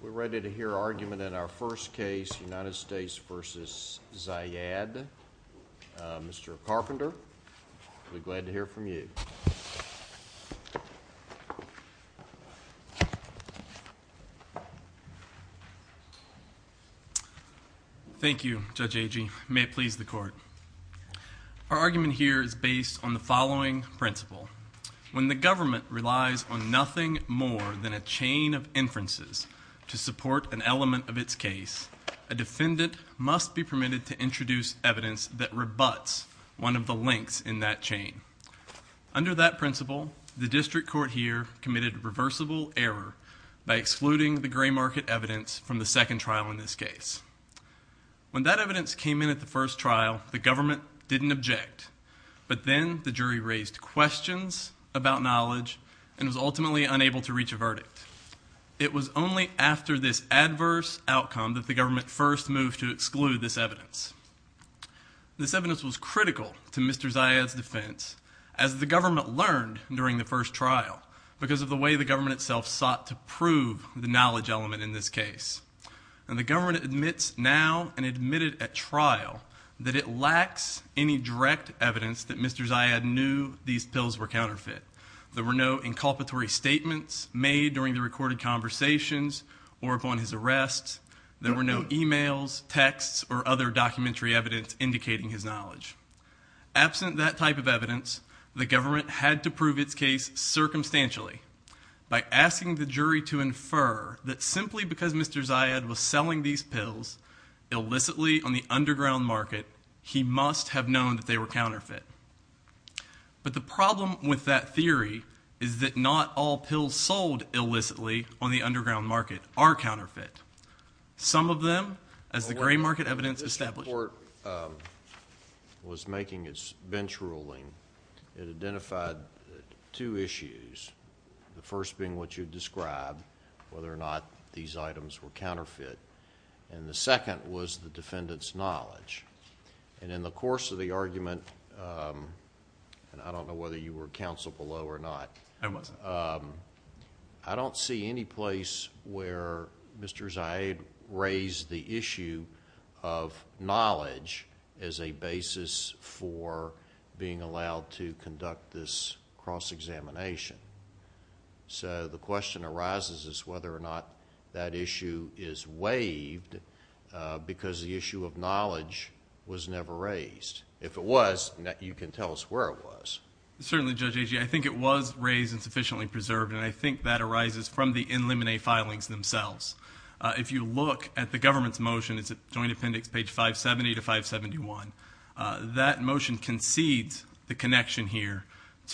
We're ready to hear argument in our first case, United States v. Zayyad. Mr. Carpenter, we're glad to hear from you. Thank you, Judge Agee. May it please the Court. Our argument here is based on the following principle. When the government relies on nothing more than a chain of inferences to support an element of its case, a defendant must be permitted to introduce evidence that rebutts one of the links in that chain. Under that principle, the District Court here committed reversible error by excluding the gray market evidence from the second trial in this case. When that evidence came in at the first trial, the government didn't object, but then the jury raised questions about knowledge and was ultimately unable to reach a verdict. It was only after this adverse outcome that the government first moved to exclude this evidence. This evidence was critical to Mr. Zayyad's defense, as the government learned during the first trial, because of the way the government itself sought to prove the knowledge element in this case. The government admits now and admitted at trial that it lacks any direct evidence that Mr. Zayyad knew these pills were counterfeit. There were no inculpatory statements made during the recorded conversations or upon his arrest. There were no e-mails, texts, or other documentary evidence indicating his knowledge. Absent that type of evidence, the government had to prove its case circumstantially by asking the jury to infer that simply because Mr. Zayyad was selling these pills illicitly on the underground market, he must have known that they were counterfeit. But the problem with that theory is that not all pills sold illicitly on the underground market are counterfeit. Some of them, as the gray market evidence established... The Supreme Court was making its bench ruling. It identified two issues, the first being what you described, whether or not these items were counterfeit, and the second was the defendant's knowledge. In the course of the argument, and I don't know whether you were counsel below or not... I wasn't. I don't see any place where Mr. Zayyad raised the issue of knowledge as a basis for being allowed to conduct this cross-examination. The question arises is whether or not that issue is waived because the issue of knowledge was never raised. If it was, you can tell us where it was. Certainly, Judge Agee, I think it was raised and sufficiently preserved, and I think that arises from the in limine filings themselves. If you look at the government's motion, it's at Joint Appendix page 570 to 571, that motion concedes the connection here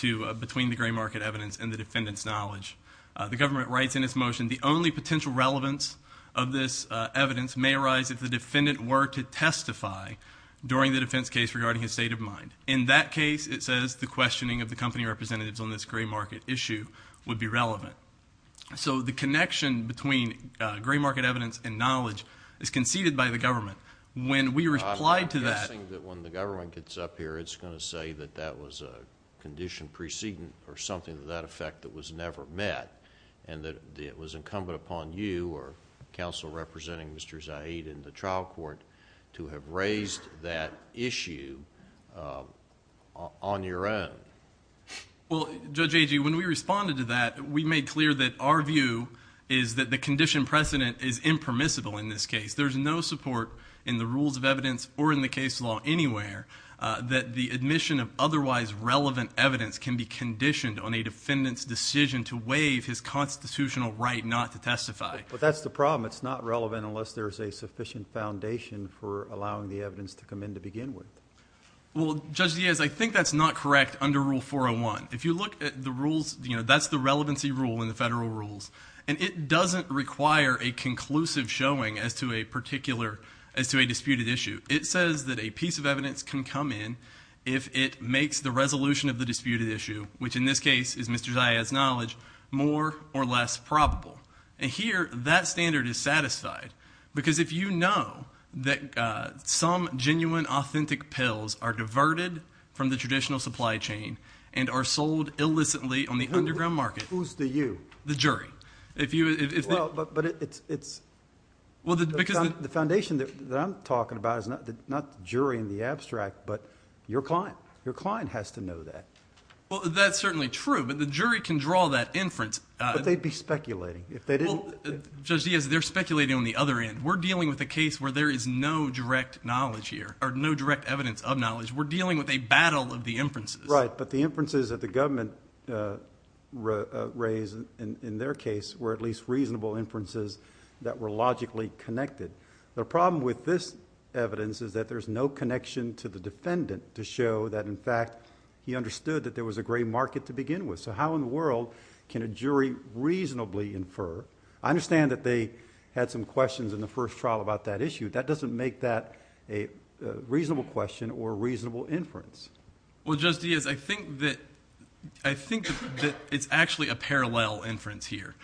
between the gray market evidence and the defendant's knowledge. The government writes in its motion, the only potential relevance of this evidence may arise if the defendant were to testify during the questioning of the company representatives on this gray market issue would be relevant. The connection between gray market evidence and knowledge is conceded by the government. When we reply to that... I'm guessing that when the government gets up here, it's going to say that that was a condition precedent or something to that effect that was never met, and that it was incumbent upon you or counsel representing Mr. Zayyad in the trial court to have raised that issue on your end. Well, Judge Agee, when we responded to that, we made clear that our view is that the condition precedent is impermissible in this case. There's no support in the rules of evidence or in the case law anywhere that the admission of otherwise relevant evidence can be conditioned on a defendant's decision to waive his constitutional right not to testify. That's the problem. It's not relevant unless there's a sufficient foundation for allowing the evidence to come in to begin with. Well, Judge Diaz, I think that's not correct under Rule 401. If you look at the rules, that's the relevancy rule in the federal rules. It doesn't require a conclusive showing as to a disputed issue. It says that a piece of evidence can come in if it makes the resolution of the disputed issue, which in this case is Mr. Zayyad's knowledge, more or less probable. Here, that standard is satisfied because if you know that some genuine authentic pills are diverted from the traditional supply chain and are sold illicitly on the underground market... Who's the you? The jury. Well, but it's... Well, because... The foundation that I'm talking about is not the jury in the abstract, but your client. Your client has to know that. That's certainly true, but the jury can draw that inference... But they'd be speculating. If they didn't... Well, Judge Diaz, they're speculating on the other end. We're dealing with a case where there is no direct knowledge here, or no direct evidence of knowledge. We're dealing with a battle of the inferences. Right, but the inferences that the government raised in their case were at least reasonable inferences that were logically connected. The problem with this evidence is that there's no connection to the defendant to show that, in fact, he understood that there was a gray market to begin with. So how in the world can a jury reasonably infer... I understand that they had some questions in the first trial about that issue. That doesn't make that a reasonable question or a reasonable inference. Well, Judge Diaz, I think that it's actually a parallel inference here.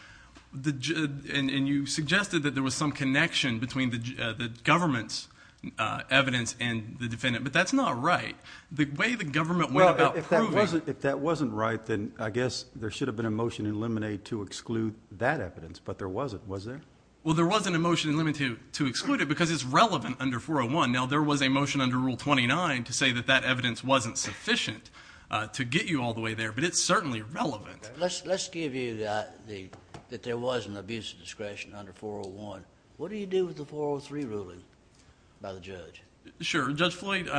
And you suggested that there was some connection between the government's evidence and the defendant, but that's not right. The way the government went about proving... If that wasn't right, then I guess there should have been a motion in Lemonade to exclude that evidence, but there wasn't, was there? Well, there wasn't a motion in Lemonade to exclude it because it's relevant under 401. Now, there was a motion under Rule 29 to say that that evidence wasn't sufficient to get you all the way there, but it's certainly relevant. Let's give you that there was an abuse of discretion under 401. What do you do with the 403 ruling by the judge? Sure. Judge Floyd,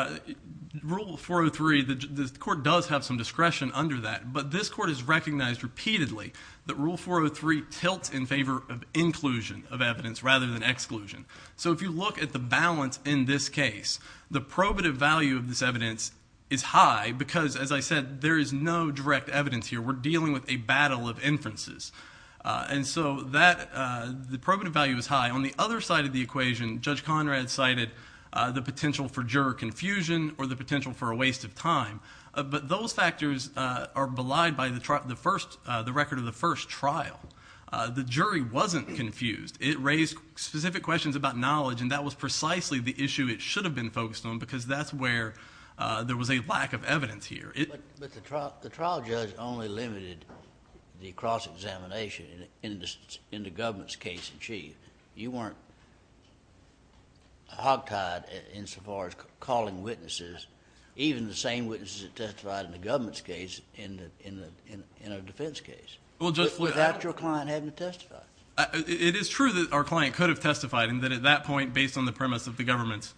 Rule 403, the court does have some discretion under that, but this court has recognized repeatedly that Rule 403 tilts in favor of inclusion of evidence rather than exclusion. So if you look at the balance in this case, the probative value of this evidence is high because, as I said, there is no direct evidence here. We're dealing with a battle of inferences. And so the probative value is high. On the other side of the equation, Judge Conrad cited the potential for juror confusion or the potential for a waste of time, but those factors are belied by the record of the first trial. The jury wasn't confused. It raised specific questions about knowledge, and that was precisely the issue it should have been focused on because that's where there was a lack of evidence here. But the trial judge only limited the cross-examination in the government's case in chief. You were not hog-tied in so far as calling witnesses, even the same witnesses that testified in the government's case in a defense case, without your client having to testify. It is true that our client could have testified, and that at that point, based on the premise of the government's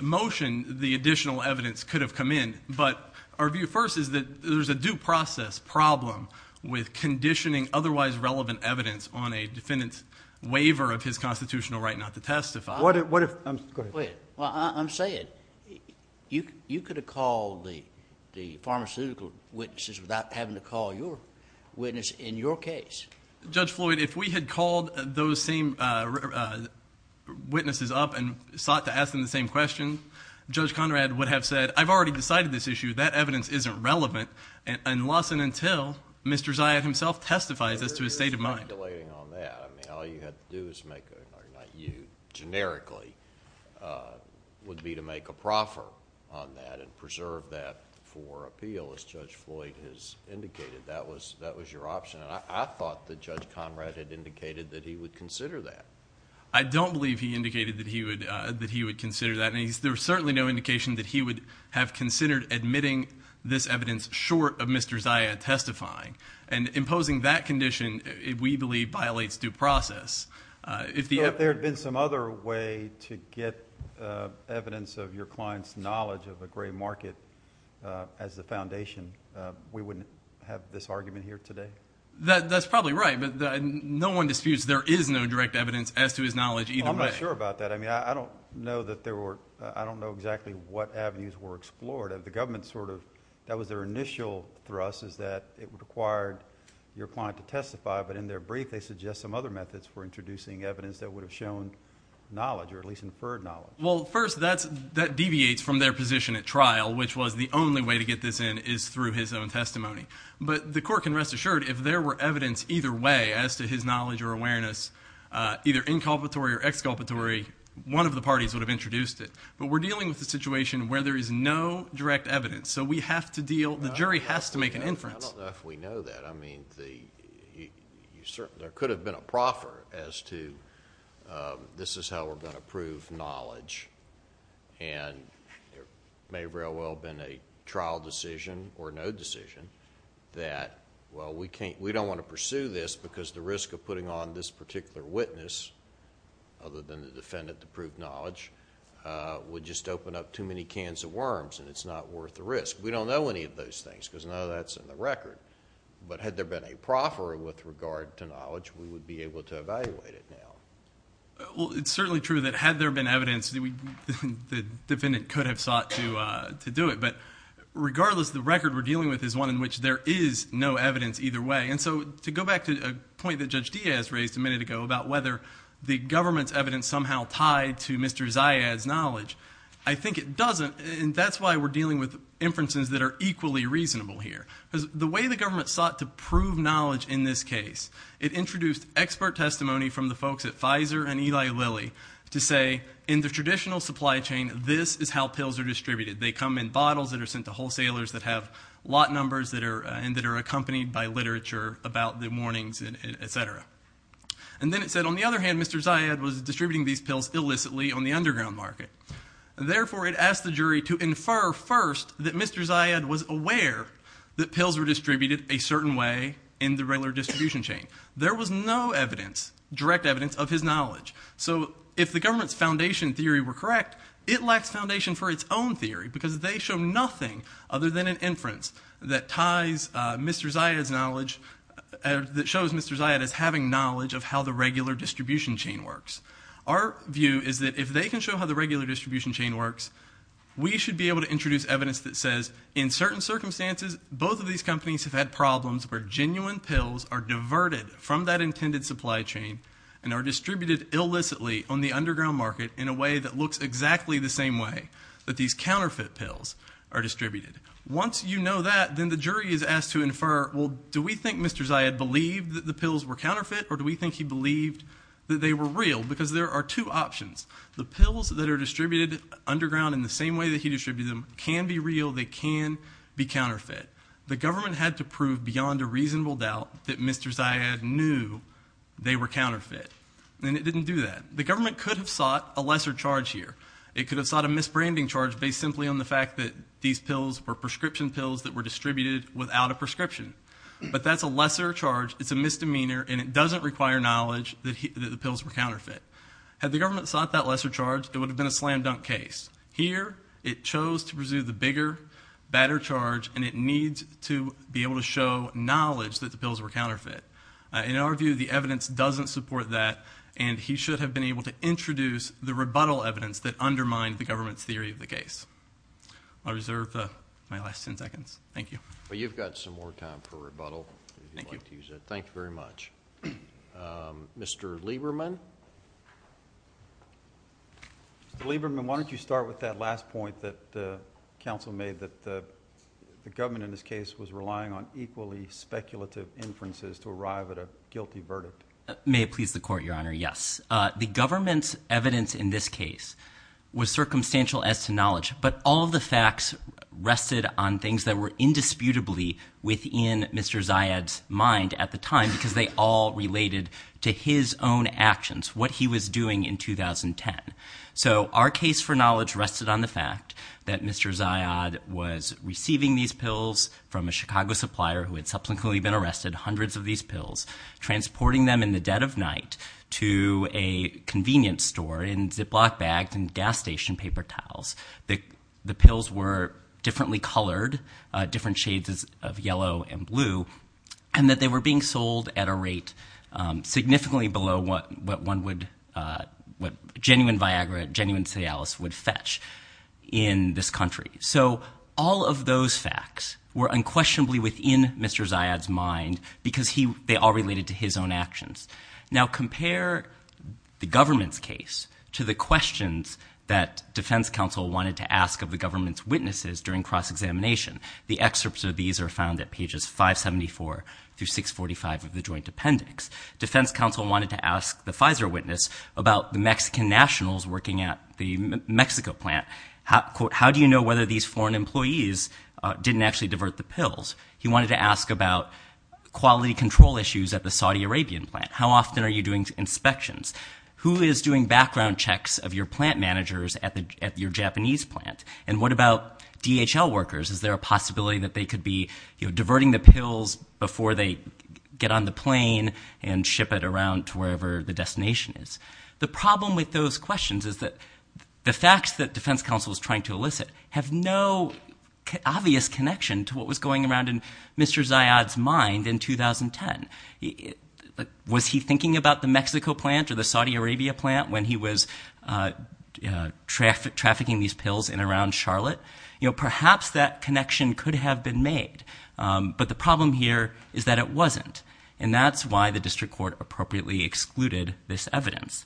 motion, the additional evidence could have come in. But our view first is that there's a due process problem with conditioning otherwise relevant evidence on a defendant's waiver of his constitutional right not to testify. What if, go ahead. I'm saying, you could have called the pharmaceutical witnesses without having to call your witness in your case. Judge Floyd, if we had called those same witnesses up and sought to ask them the same question, Judge Conrad would have said, I've already decided this issue, that evidence isn't relevant unless and until Mr. Zia himself testifies as to his state of mind. I'm not delaying on that. All you have to do is make, or not you, generically, would be to make a proffer on that and preserve that for appeal, as Judge Floyd has indicated. That was your option. I thought that Judge Conrad had indicated that he would consider that. I don't believe he indicated that he would consider that. There's certainly no indication that he would have considered admitting this evidence short of Mr. Zia testifying. Imposing that condition, we believe, violates due process. If there had been some other way to get evidence of your client's knowledge of the gray market as the foundation, we wouldn't have this argument here today? That's probably right. No one disputes there is no direct evidence as to his knowledge either way. I'm not sure about that. I don't know exactly what avenues were explored. The government's initial thrust is that it required your client to testify, but in their brief they suggest some other methods for introducing evidence that would have shown knowledge, or at least inferred knowledge. First, that deviates from their position at trial, which was the only way to get this in is through his own testimony. The court can rest assured if there were evidence either way as to his knowledge or awareness, either inculpatory or exculpatory, one of the parties would have introduced it. We're dealing with a situation where there is no direct evidence, so the jury has to make an inference. I don't know if we know that. There could have been a proffer as to this is how we're going to prove knowledge. There may very well have been a trial decision or no decision that we don't want to pursue this because the risk of putting on this particular witness other than the defendant to prove knowledge would just open up too many cans of worms and it's not worth the risk. We don't know any of those things because none of that's in the record, but had there been a proffer with regard to knowledge we would be able to evaluate it now. It's certainly true that had there been evidence the defendant could have sought to do it, but regardless the record we're dealing with is one in which there is no evidence either way. To go back to a point that Judge Diaz raised a minute ago about whether the government's evidence somehow tied to Mr. Zayad's knowledge, I think it doesn't and that's why we're dealing with inferences that are equally reasonable here. The way the government sought to prove knowledge in this case, it introduced expert testimony from the folks at Pfizer and Eli Lilly to say in the traditional supply chain this is how pills are distributed. They come in bottles that are sent to wholesalers that have lot of literature about the warnings, etc. And then it said on the other hand Mr. Zayad was distributing these pills illicitly on the underground market. Therefore it asked the jury to infer first that Mr. Zayad was aware that pills were distributed a certain way in the regular distribution chain. There was no evidence, direct evidence of his knowledge. So if the government's foundation theory were correct, it lacks foundation for its own theory because they show nothing other than an inference that ties Mr. Zayad's knowledge, that shows Mr. Zayad as having knowledge of how the regular distribution chain works. Our view is that if they can show how the regular distribution chain works, we should be able to introduce evidence that says in certain circumstances both of these companies have had problems where genuine pills are diverted from that intended supply chain and are distributed illicitly on the underground market in a way that looks exactly the same way that these counterfeit pills are distributed. Once you know that, then the jury is asked to infer, well do we think Mr. Zayad believed that the pills were counterfeit or do we think he believed that they were real? Because there are two options. The pills that are distributed underground in the same way that he distributed them can be real, they can be counterfeit. The government had to prove beyond a reasonable doubt that Mr. Zayad knew they were counterfeit. And it didn't do that. The government could have sought a lesser charge here. It could have sought a misbranding charge based simply on the fact that these pills were prescription pills that were distributed without a prescription. But that's a lesser charge, it's a misdemeanor, and it doesn't require knowledge that the pills were counterfeit. Had the government sought that lesser charge, it would have been a slam dunk case. Here it chose to pursue the bigger, badder charge and it needs to be able to show knowledge that the pills were counterfeit. In our view, the evidence doesn't support that and he should have been able to introduce the rebuttal evidence that undermined the government's theory of the case. I'll reserve my last ten seconds. Thank you. But you've got some more time for rebuttal if you'd like to use it. Thank you. Thank you very much. Mr. Lieberman? Mr. Lieberman, why don't you start with that last point that the counsel made that the government in this case was relying on equally speculative inferences to arrive at a guilty verdict. May it please the court, Your Honor, yes. The government's evidence in this case was circumstantial as to knowledge, but all of the facts rested on things that were indisputably within Mr. Zayad's mind at the time because they all related to his own actions, what he was doing in 2010. So our case for knowledge rested on the fact that Mr. Zayad was receiving these pills from a Chicago supplier who had subsequently been arrested, hundreds of these pills, transporting them in the dead of night to a convenience store in Ziploc bags and gas station paper towels. The pills were differently colored, different shades of yellow and blue, and that they were being sold at a rate significantly below what one would, what genuine Viagra, genuine Cialis would fetch in this country. So all of those facts were unquestionably within Mr. Zayad's mind because they all related to his own actions. Now compare the government's case to the questions that defense counsel wanted to ask of the government's witnesses during cross-examination. The excerpts of these are found at pages 574 through 645 of the joint appendix. Defense counsel wanted to ask the Pfizer witness about the Mexican nationals working at the Mexico plant, quote, how do you know whether these foreign employees didn't actually divert the pills? He wanted to ask about quality control issues at the Saudi Arabian plant. How often are you doing inspections? Who is doing background checks of your plant managers at your Japanese plant? And what about DHL workers? Is there a possibility that they could be diverting the pills before they get on the plane and ship it around to wherever the destination is? The problem with those questions is that the facts that defense counsel is trying to elicit have no obvious connection to what was going around in Mr. Zayad's mind in 2010. Was he thinking about the Mexico plant or the Saudi Arabia plant when he was trafficking these pills in and around Charlotte? Perhaps that connection could have been made. But the problem here is that it wasn't. And that's why the district court appropriately excluded this evidence.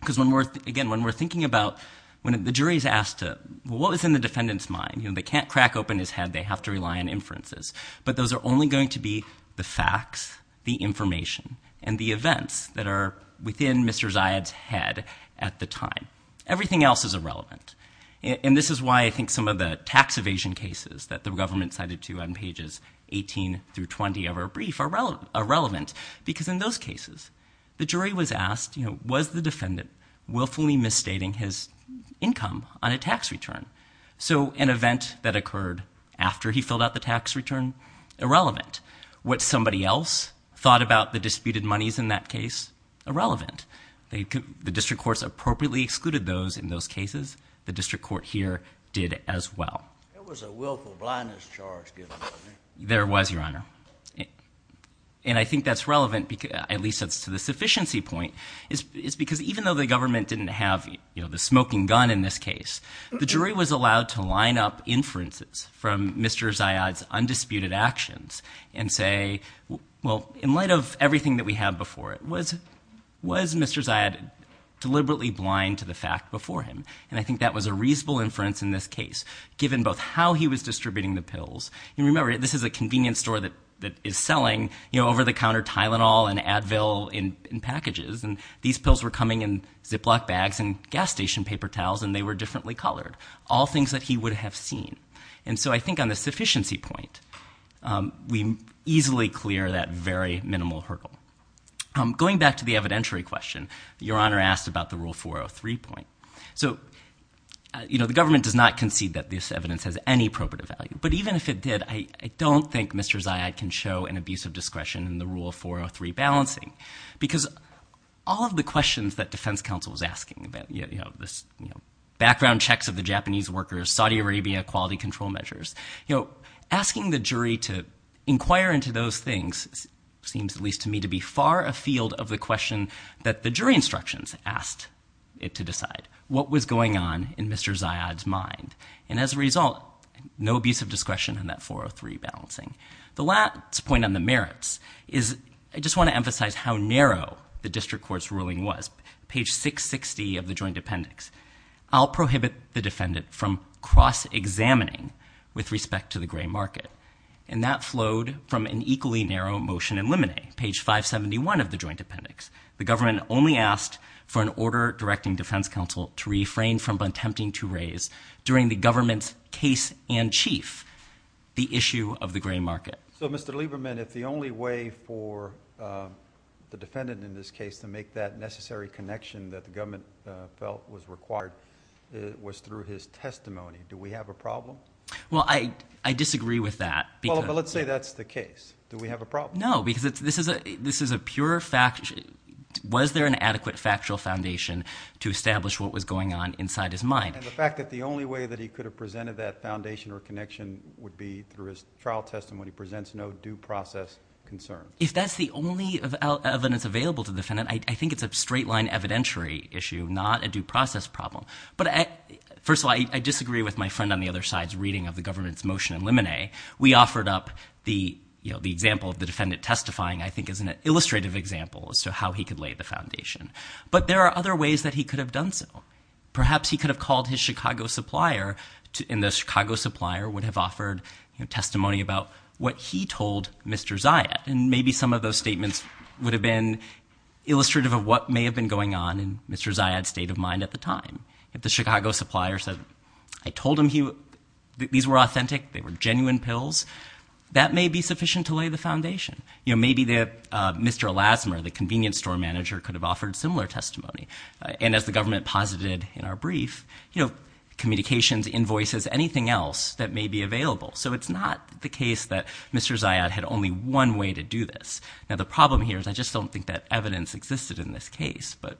Because again, when we're thinking about when the jury is asked what was in the defendant's mind, they can't crack open his head. They have to rely on inferences. But those are only going to be the facts, the information, and the events that are within Mr. Zayad's head at the time. Everything else is irrelevant. And this is why I think some of the tax evasion cases that the government cited to on pages 18 through 20 of our brief are relevant. Because in those cases, the jury was asked, was the defendant willfully misstating his income on a tax return? So an event that occurred after he filled out the tax return, irrelevant. What somebody else thought about the disputed monies in that case, irrelevant. The district courts appropriately excluded those in those cases. The district court here did as well. There was a willful blindness charge given to me. There was, Your Honor. And I think that's relevant, at least as to the sufficiency point, is because even though the government didn't have, you know, the smoking gun in this case, the jury was allowed to line up inferences from Mr. Zayad's undisputed actions and say, well, in light of everything that we had before, was Mr. Zayad deliberately blind to the fact before him? And I think that was a reasonable inference in this case, given both how he was distributing the pills. And remember, this is a convenience store that is selling, you know, over-the-counter Tylenol and Advil in packages, and these pills were coming in Ziploc bags and gas station paper towels, and they were differently colored. All things that he would have seen. And so I think on the sufficiency point, we easily clear that very minimal hurdle. Going back to the evidentiary question, Your Honor asked about the Rule 403 point. So, you know, the government does not concede that this evidence has any probative value. But even if it did, I don't think Mr. Zayad can show an abuse of discretion in the Rule 403 balancing. Because all of the questions that defense counsel was asking about, you know, this background checks of the Japanese workers, Saudi Arabia, quality control measures, you know, asking the jury to inquire into those things seems, at least to me, to be far afield of the question that the jury instructions asked it to decide what was going on in Mr. Zayad's mind. And as a result, no abuse of discretion in that 403 balancing. The last point on the merits is I just want to emphasize how narrow the district court's ruling was. Page 660 of the Joint Appendix, I'll prohibit the defendant from cross-examining with respect to the gray market. And that flowed from an equally narrow motion in Limine. Page 571 of the Joint Appendix. The government only asked for an order directing defense counsel to refrain from attempting to raise, during the government's case in chief, the issue of the gray market. So Mr. Lieberman, if the only way for the defendant in this case to make that necessary connection that the government felt was required was through his testimony, do we have a problem? Well, I disagree with that. Well, but let's say that's the case. Do we have a problem? No, because this is a pure fact. Was there an adequate factual foundation to establish what was going on inside his mind? And the fact that the only way that he could have presented that foundation or connection would be through his trial testimony presents no due process concern. If that's the only evidence available to the defendant, I think it's a straight line evidentiary issue, not a due process problem. But first of all, I disagree with my friend on the other side's reading of the government's motion in Limine. We offered up the example of the defendant testifying, I think, as an illustrative example as to how he could lay the foundation. But there are other ways that he could have done so. Perhaps he could have called his Chicago supplier, and the Chicago supplier would have offered testimony about what he told Mr. Zayad. And maybe some of those statements would have been illustrative of what may have been going on in Mr. Zayad's state of mind at the time. If the Chicago supplier said, I told him these were authentic, they were genuine pills, that may be sufficient to lay the foundation. Maybe Mr. Lassner, the convenience store manager, could have offered similar testimony. And as the government posited in our brief, communications, invoices, anything else that may be available. So it's not the case that Mr. Zayad had only one way to do this. Now, the problem here is I just don't think that evidence existed in this case, but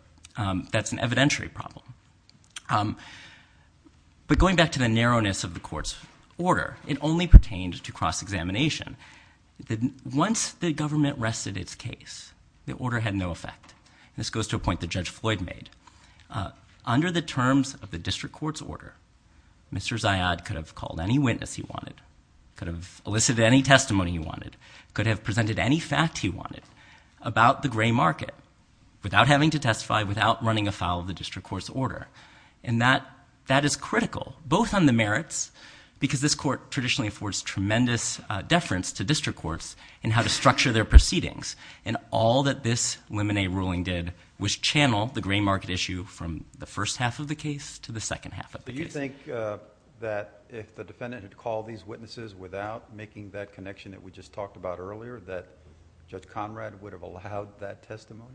that's an evidentiary problem. But going back to the narrowness of the court's order, it only pertained to cross-examination. Once the government rested its case, the order had no effect. This goes to a point that Judge Floyd made. Under the terms of the district court's order, Mr. Zayad could have called any witness he wanted, could have elicited any testimony he wanted, could have presented any fact he order. And that is critical, both on the merits, because this court traditionally affords tremendous deference to district courts in how to structure their proceedings. And all that this lemonade ruling did was channel the gray market issue from the first half of the case to the second half of the case. Do you think that if the defendant had called these witnesses without making that connection that we just talked about earlier, that Judge Conrad would have allowed that testimony?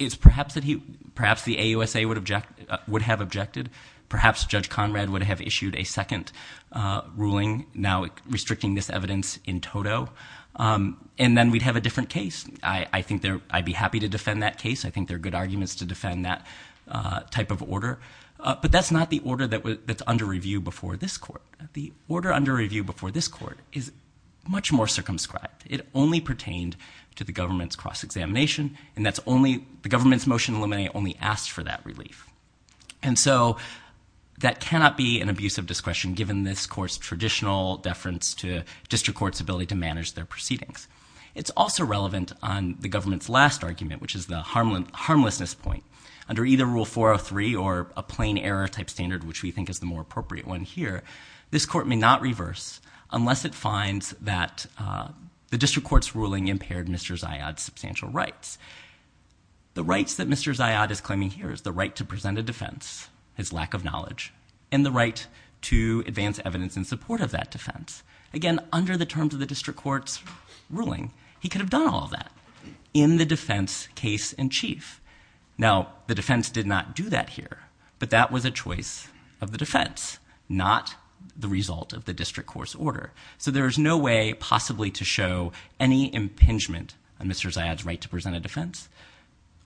It's perhaps that he, perhaps the AUSA would object, would have objected. Perhaps Judge Conrad would have issued a second ruling now restricting this evidence in toto. And then we'd have a different case. I think there, I'd be happy to defend that case. I think there are good arguments to defend that type of order. But that's not the order that's under review before this court. The order under review before this court is much more circumscribed. It only pertained to the government's cross-examination. And that's only, the government's motion only asked for that relief. And so that cannot be an abuse of discretion given this court's traditional deference to district courts' ability to manage their proceedings. It's also relevant on the government's last argument, which is the harmlessness point. Under either Rule 403 or a plain error type standard, which we think is the more appropriate one here, this court may not reverse unless it finds that the district court's ruling impaired Mr. Zayad's substantial rights. The rights that Mr. Zayad is claiming here is the right to present a defense, his lack of knowledge, and the right to advance evidence in support of that defense. Again, under the terms of the district court's ruling, he could have done all of that in the defense case in chief. Now, the defense did not do that here, but that was a choice of the defense, not the result of the district court's order. So there is no way possibly to show any impingement on Mr. Zayad's right to present a defense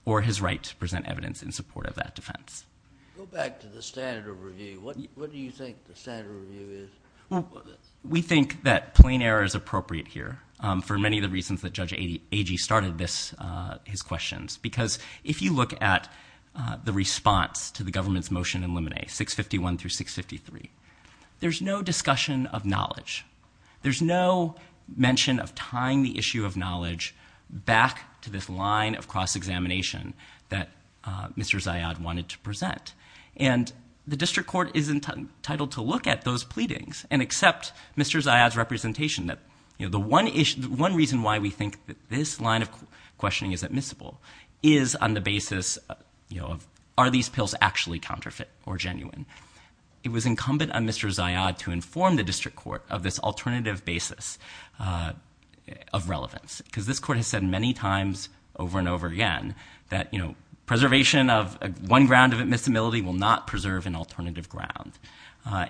or his right to present evidence in support of that defense. Go back to the standard of review. What do you think the standard of review is? We think that plain error is appropriate here for many of the reasons that Judge Agee started this, his questions, because if you look at the response to the government's motion in Luminae, 651 through 653, there's no discussion of knowledge. There's no mention of tying the issue of knowledge back to this line of cross-examination that Mr. Zayad wanted to present. And the district court is entitled to look at those pleadings and accept Mr. Zayad's questioning is admissible, is on the basis of are these pills actually counterfeit or genuine? It was incumbent on Mr. Zayad to inform the district court of this alternative basis of relevance because this court has said many times over and over again that preservation of one ground of admissibility will not preserve an alternative ground.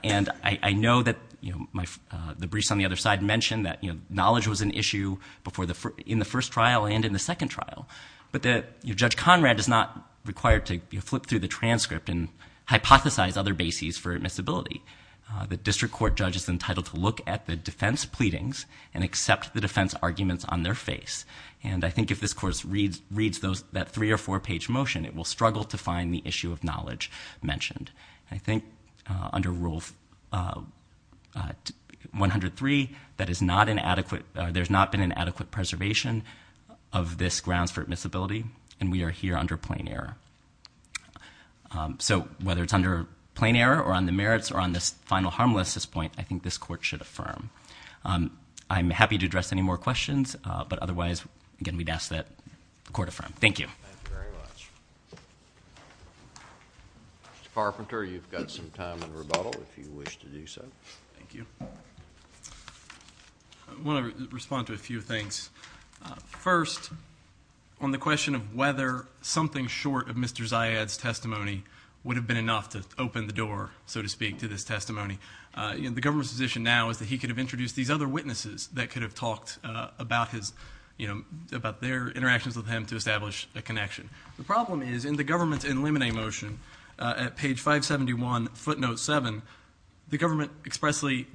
And I know that the briefs on the other side mentioned that knowledge was an issue in the first trial and in the second trial, but that Judge Conrad is not required to flip through the transcript and hypothesize other bases for admissibility. The district court judge is entitled to look at the defense pleadings and accept the defense arguments on their face. And I think if this court reads that three or four page motion, it will struggle to find the issue of knowledge mentioned. I think under Rule 103, there's not been an adequate preservation of this grounds for admissibility and we are here under plain error. So whether it's under plain error or on the merits or on this final harmless point, I think this court should affirm. I'm happy to address any more questions, but otherwise, again, we'd ask that the court affirm. Thank you. Thank you very much. Mr. Carpenter, you've got some time in rebuttal if you wish to do so. Thank you. I want to respond to a few things. First, on the question of whether something short of Mr. Zayad's testimony would have been enough to open the door, so to speak, to this testimony. The government's position now is that he could have introduced these other witnesses that could have talked about their interactions with him to establish a connection. The problem is in the government's in limine motion at page 571, footnote 7, the government expressly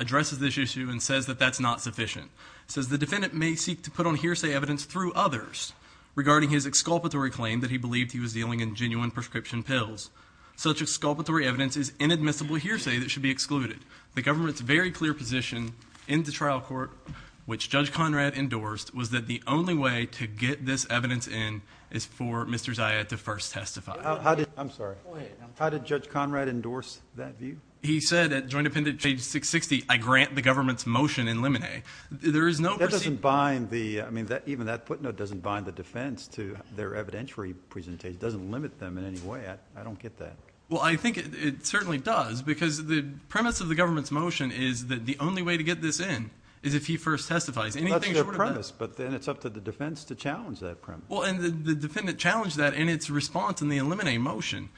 addresses this issue and says that that's not sufficient. It says the defendant may seek to put on hearsay evidence through others regarding his exculpatory claim that he believed he was dealing in genuine prescription pills. Such exculpatory evidence is inadmissible hearsay that should be excluded. The government's very clear position in the trial court, which Judge Conrad endorsed, was that the only way to get this evidence in is for Mr. Zayad to first testify. I'm sorry. Go ahead. How did Judge Conrad endorse that view? He said at Joint Appendix page 660, I grant the government's motion in limine. There is no... That doesn't bind the... even that footnote doesn't bind the defense to their evidentiary presentation. It doesn't limit them in any way. I don't get that. Well, I think it certainly does because the premise of the government's motion is that the only way to get this in is if he first testifies. Anything short of that... That's their premise, but then it's up to the defense to challenge that premise. Well, and the defendant challenged that in its response in the limine motion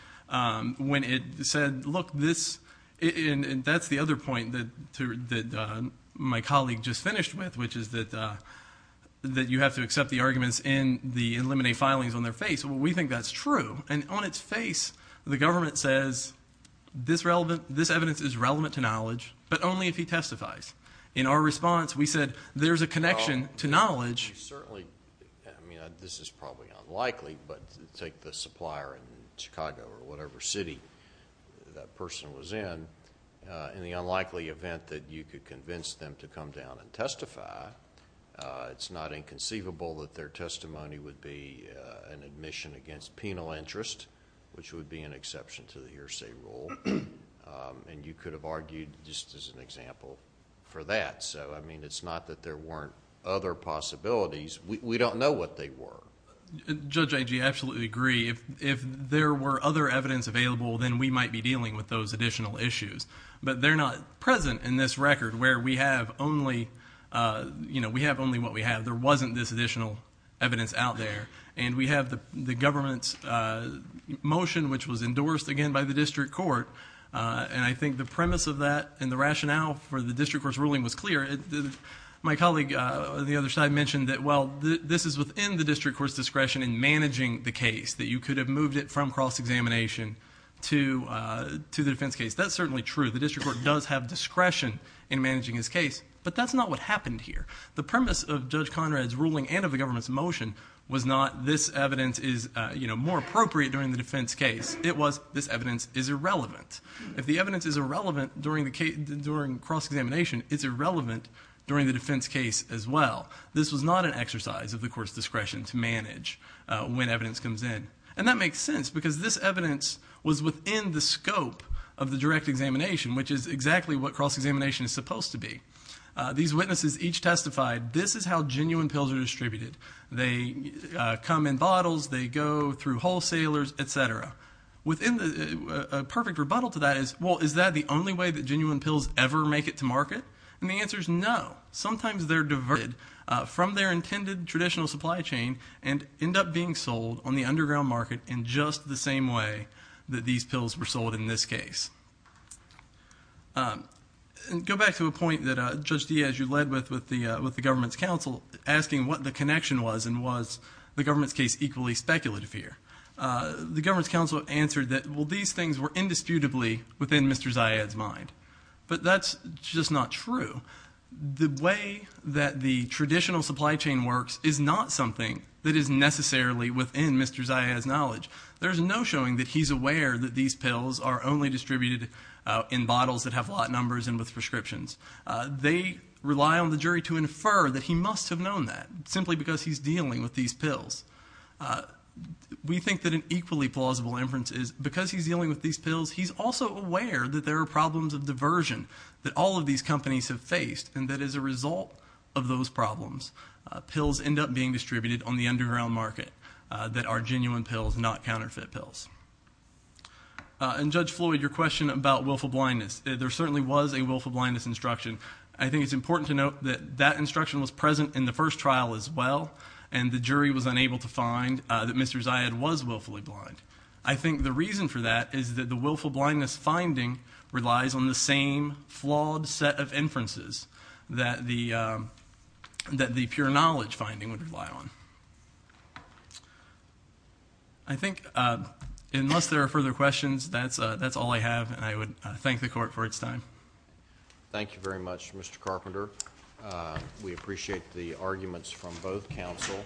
when it said, look, this... and that's the other point that my colleague just finished with, which is that you have to accept the arguments in the limine filings on their face. We think that's true. And on its face, the government says, this evidence is relevant to knowledge, but only if he testifies. In our response, we said, there's a connection to knowledge... Well, you certainly... I mean, this is probably unlikely, but take the supplier in Chicago or whatever city that person was in, in the unlikely event that you could convince them to come down and testify, it's not inconceivable that their testimony would be an admission against penal interest, which would be an exception to the hearsay rule, and you could have argued just as an example for that. So, I mean, it's not that there weren't other possibilities. We don't know what they were. Judge Agee, I absolutely agree. If there were other evidence available, then we might be dealing with those additional issues, but they're not present in this record where we have only what we have. There wasn't this additional evidence out there, and we have the government's motion, which was endorsed, again, by the district court, and I think the premise of that and the rationale for the district court's ruling was clear. My colleague on the other side mentioned that, well, this is within the district court's discretion in managing the case, that you could have moved it from cross-examination to the defense case. That's certainly true. The district court does have discretion in managing his case, but that's not what happened here. The premise of Judge Conrad's ruling and of the government's motion was not this evidence is more appropriate during the defense case. It was this evidence is irrelevant. If the evidence is irrelevant during cross-examination, it's irrelevant during the defense case as well. This was not an exercise of the court's discretion to manage when evidence comes in, and that makes sense because this evidence was within the scope of the direct examination, which is exactly what cross-examination is supposed to be. These witnesses each testified, this is how genuine pills are distributed. They come in bottles. They go through wholesalers, et cetera. Within the perfect rebuttal to that is, well, is that the only way that genuine pills ever make it to market? And the answer is no. Sometimes they're diverted from their intended traditional supply chain and end up being sold on the underground market in just the same way that these pills were sold in this case. Go back to a point that Judge Diaz, you led with with the government's counsel, asking what the connection was, and was the government's case equally speculative here? The government's counsel answered that, well, these things were indisputably within Mr. Ziad's mind, but that's just not true. The way that the traditional supply chain works is not something that is necessarily within Mr. Ziad's knowledge. There's no showing that he's aware that these pills are only distributed in bottles that have lot numbers and with prescriptions. They rely on the jury to infer that he must have known that, simply because he's dealing with these pills. We think that an equally plausible inference is, because he's dealing with these pills, he's also aware that there are problems of diversion that all of these companies have faced, and that as a result of those problems, pills end up being distributed on the underground market that are genuine pills, not counterfeit pills. And Judge Floyd, your question about willful blindness, there certainly was a willful blindness instruction. I think it's important to note that that instruction was present in the first trial as well, and the jury was unable to find that Mr. Ziad was willfully blind. I think the reason for that is that the willful blindness finding relies on the same flawed set of inferences that the pure knowledge finding would rely on. I think, unless there are further questions, that's all I have, and I would thank the Court for its time. Thank you very much, Mr. Carpenter. We appreciate the arguments from both counsel.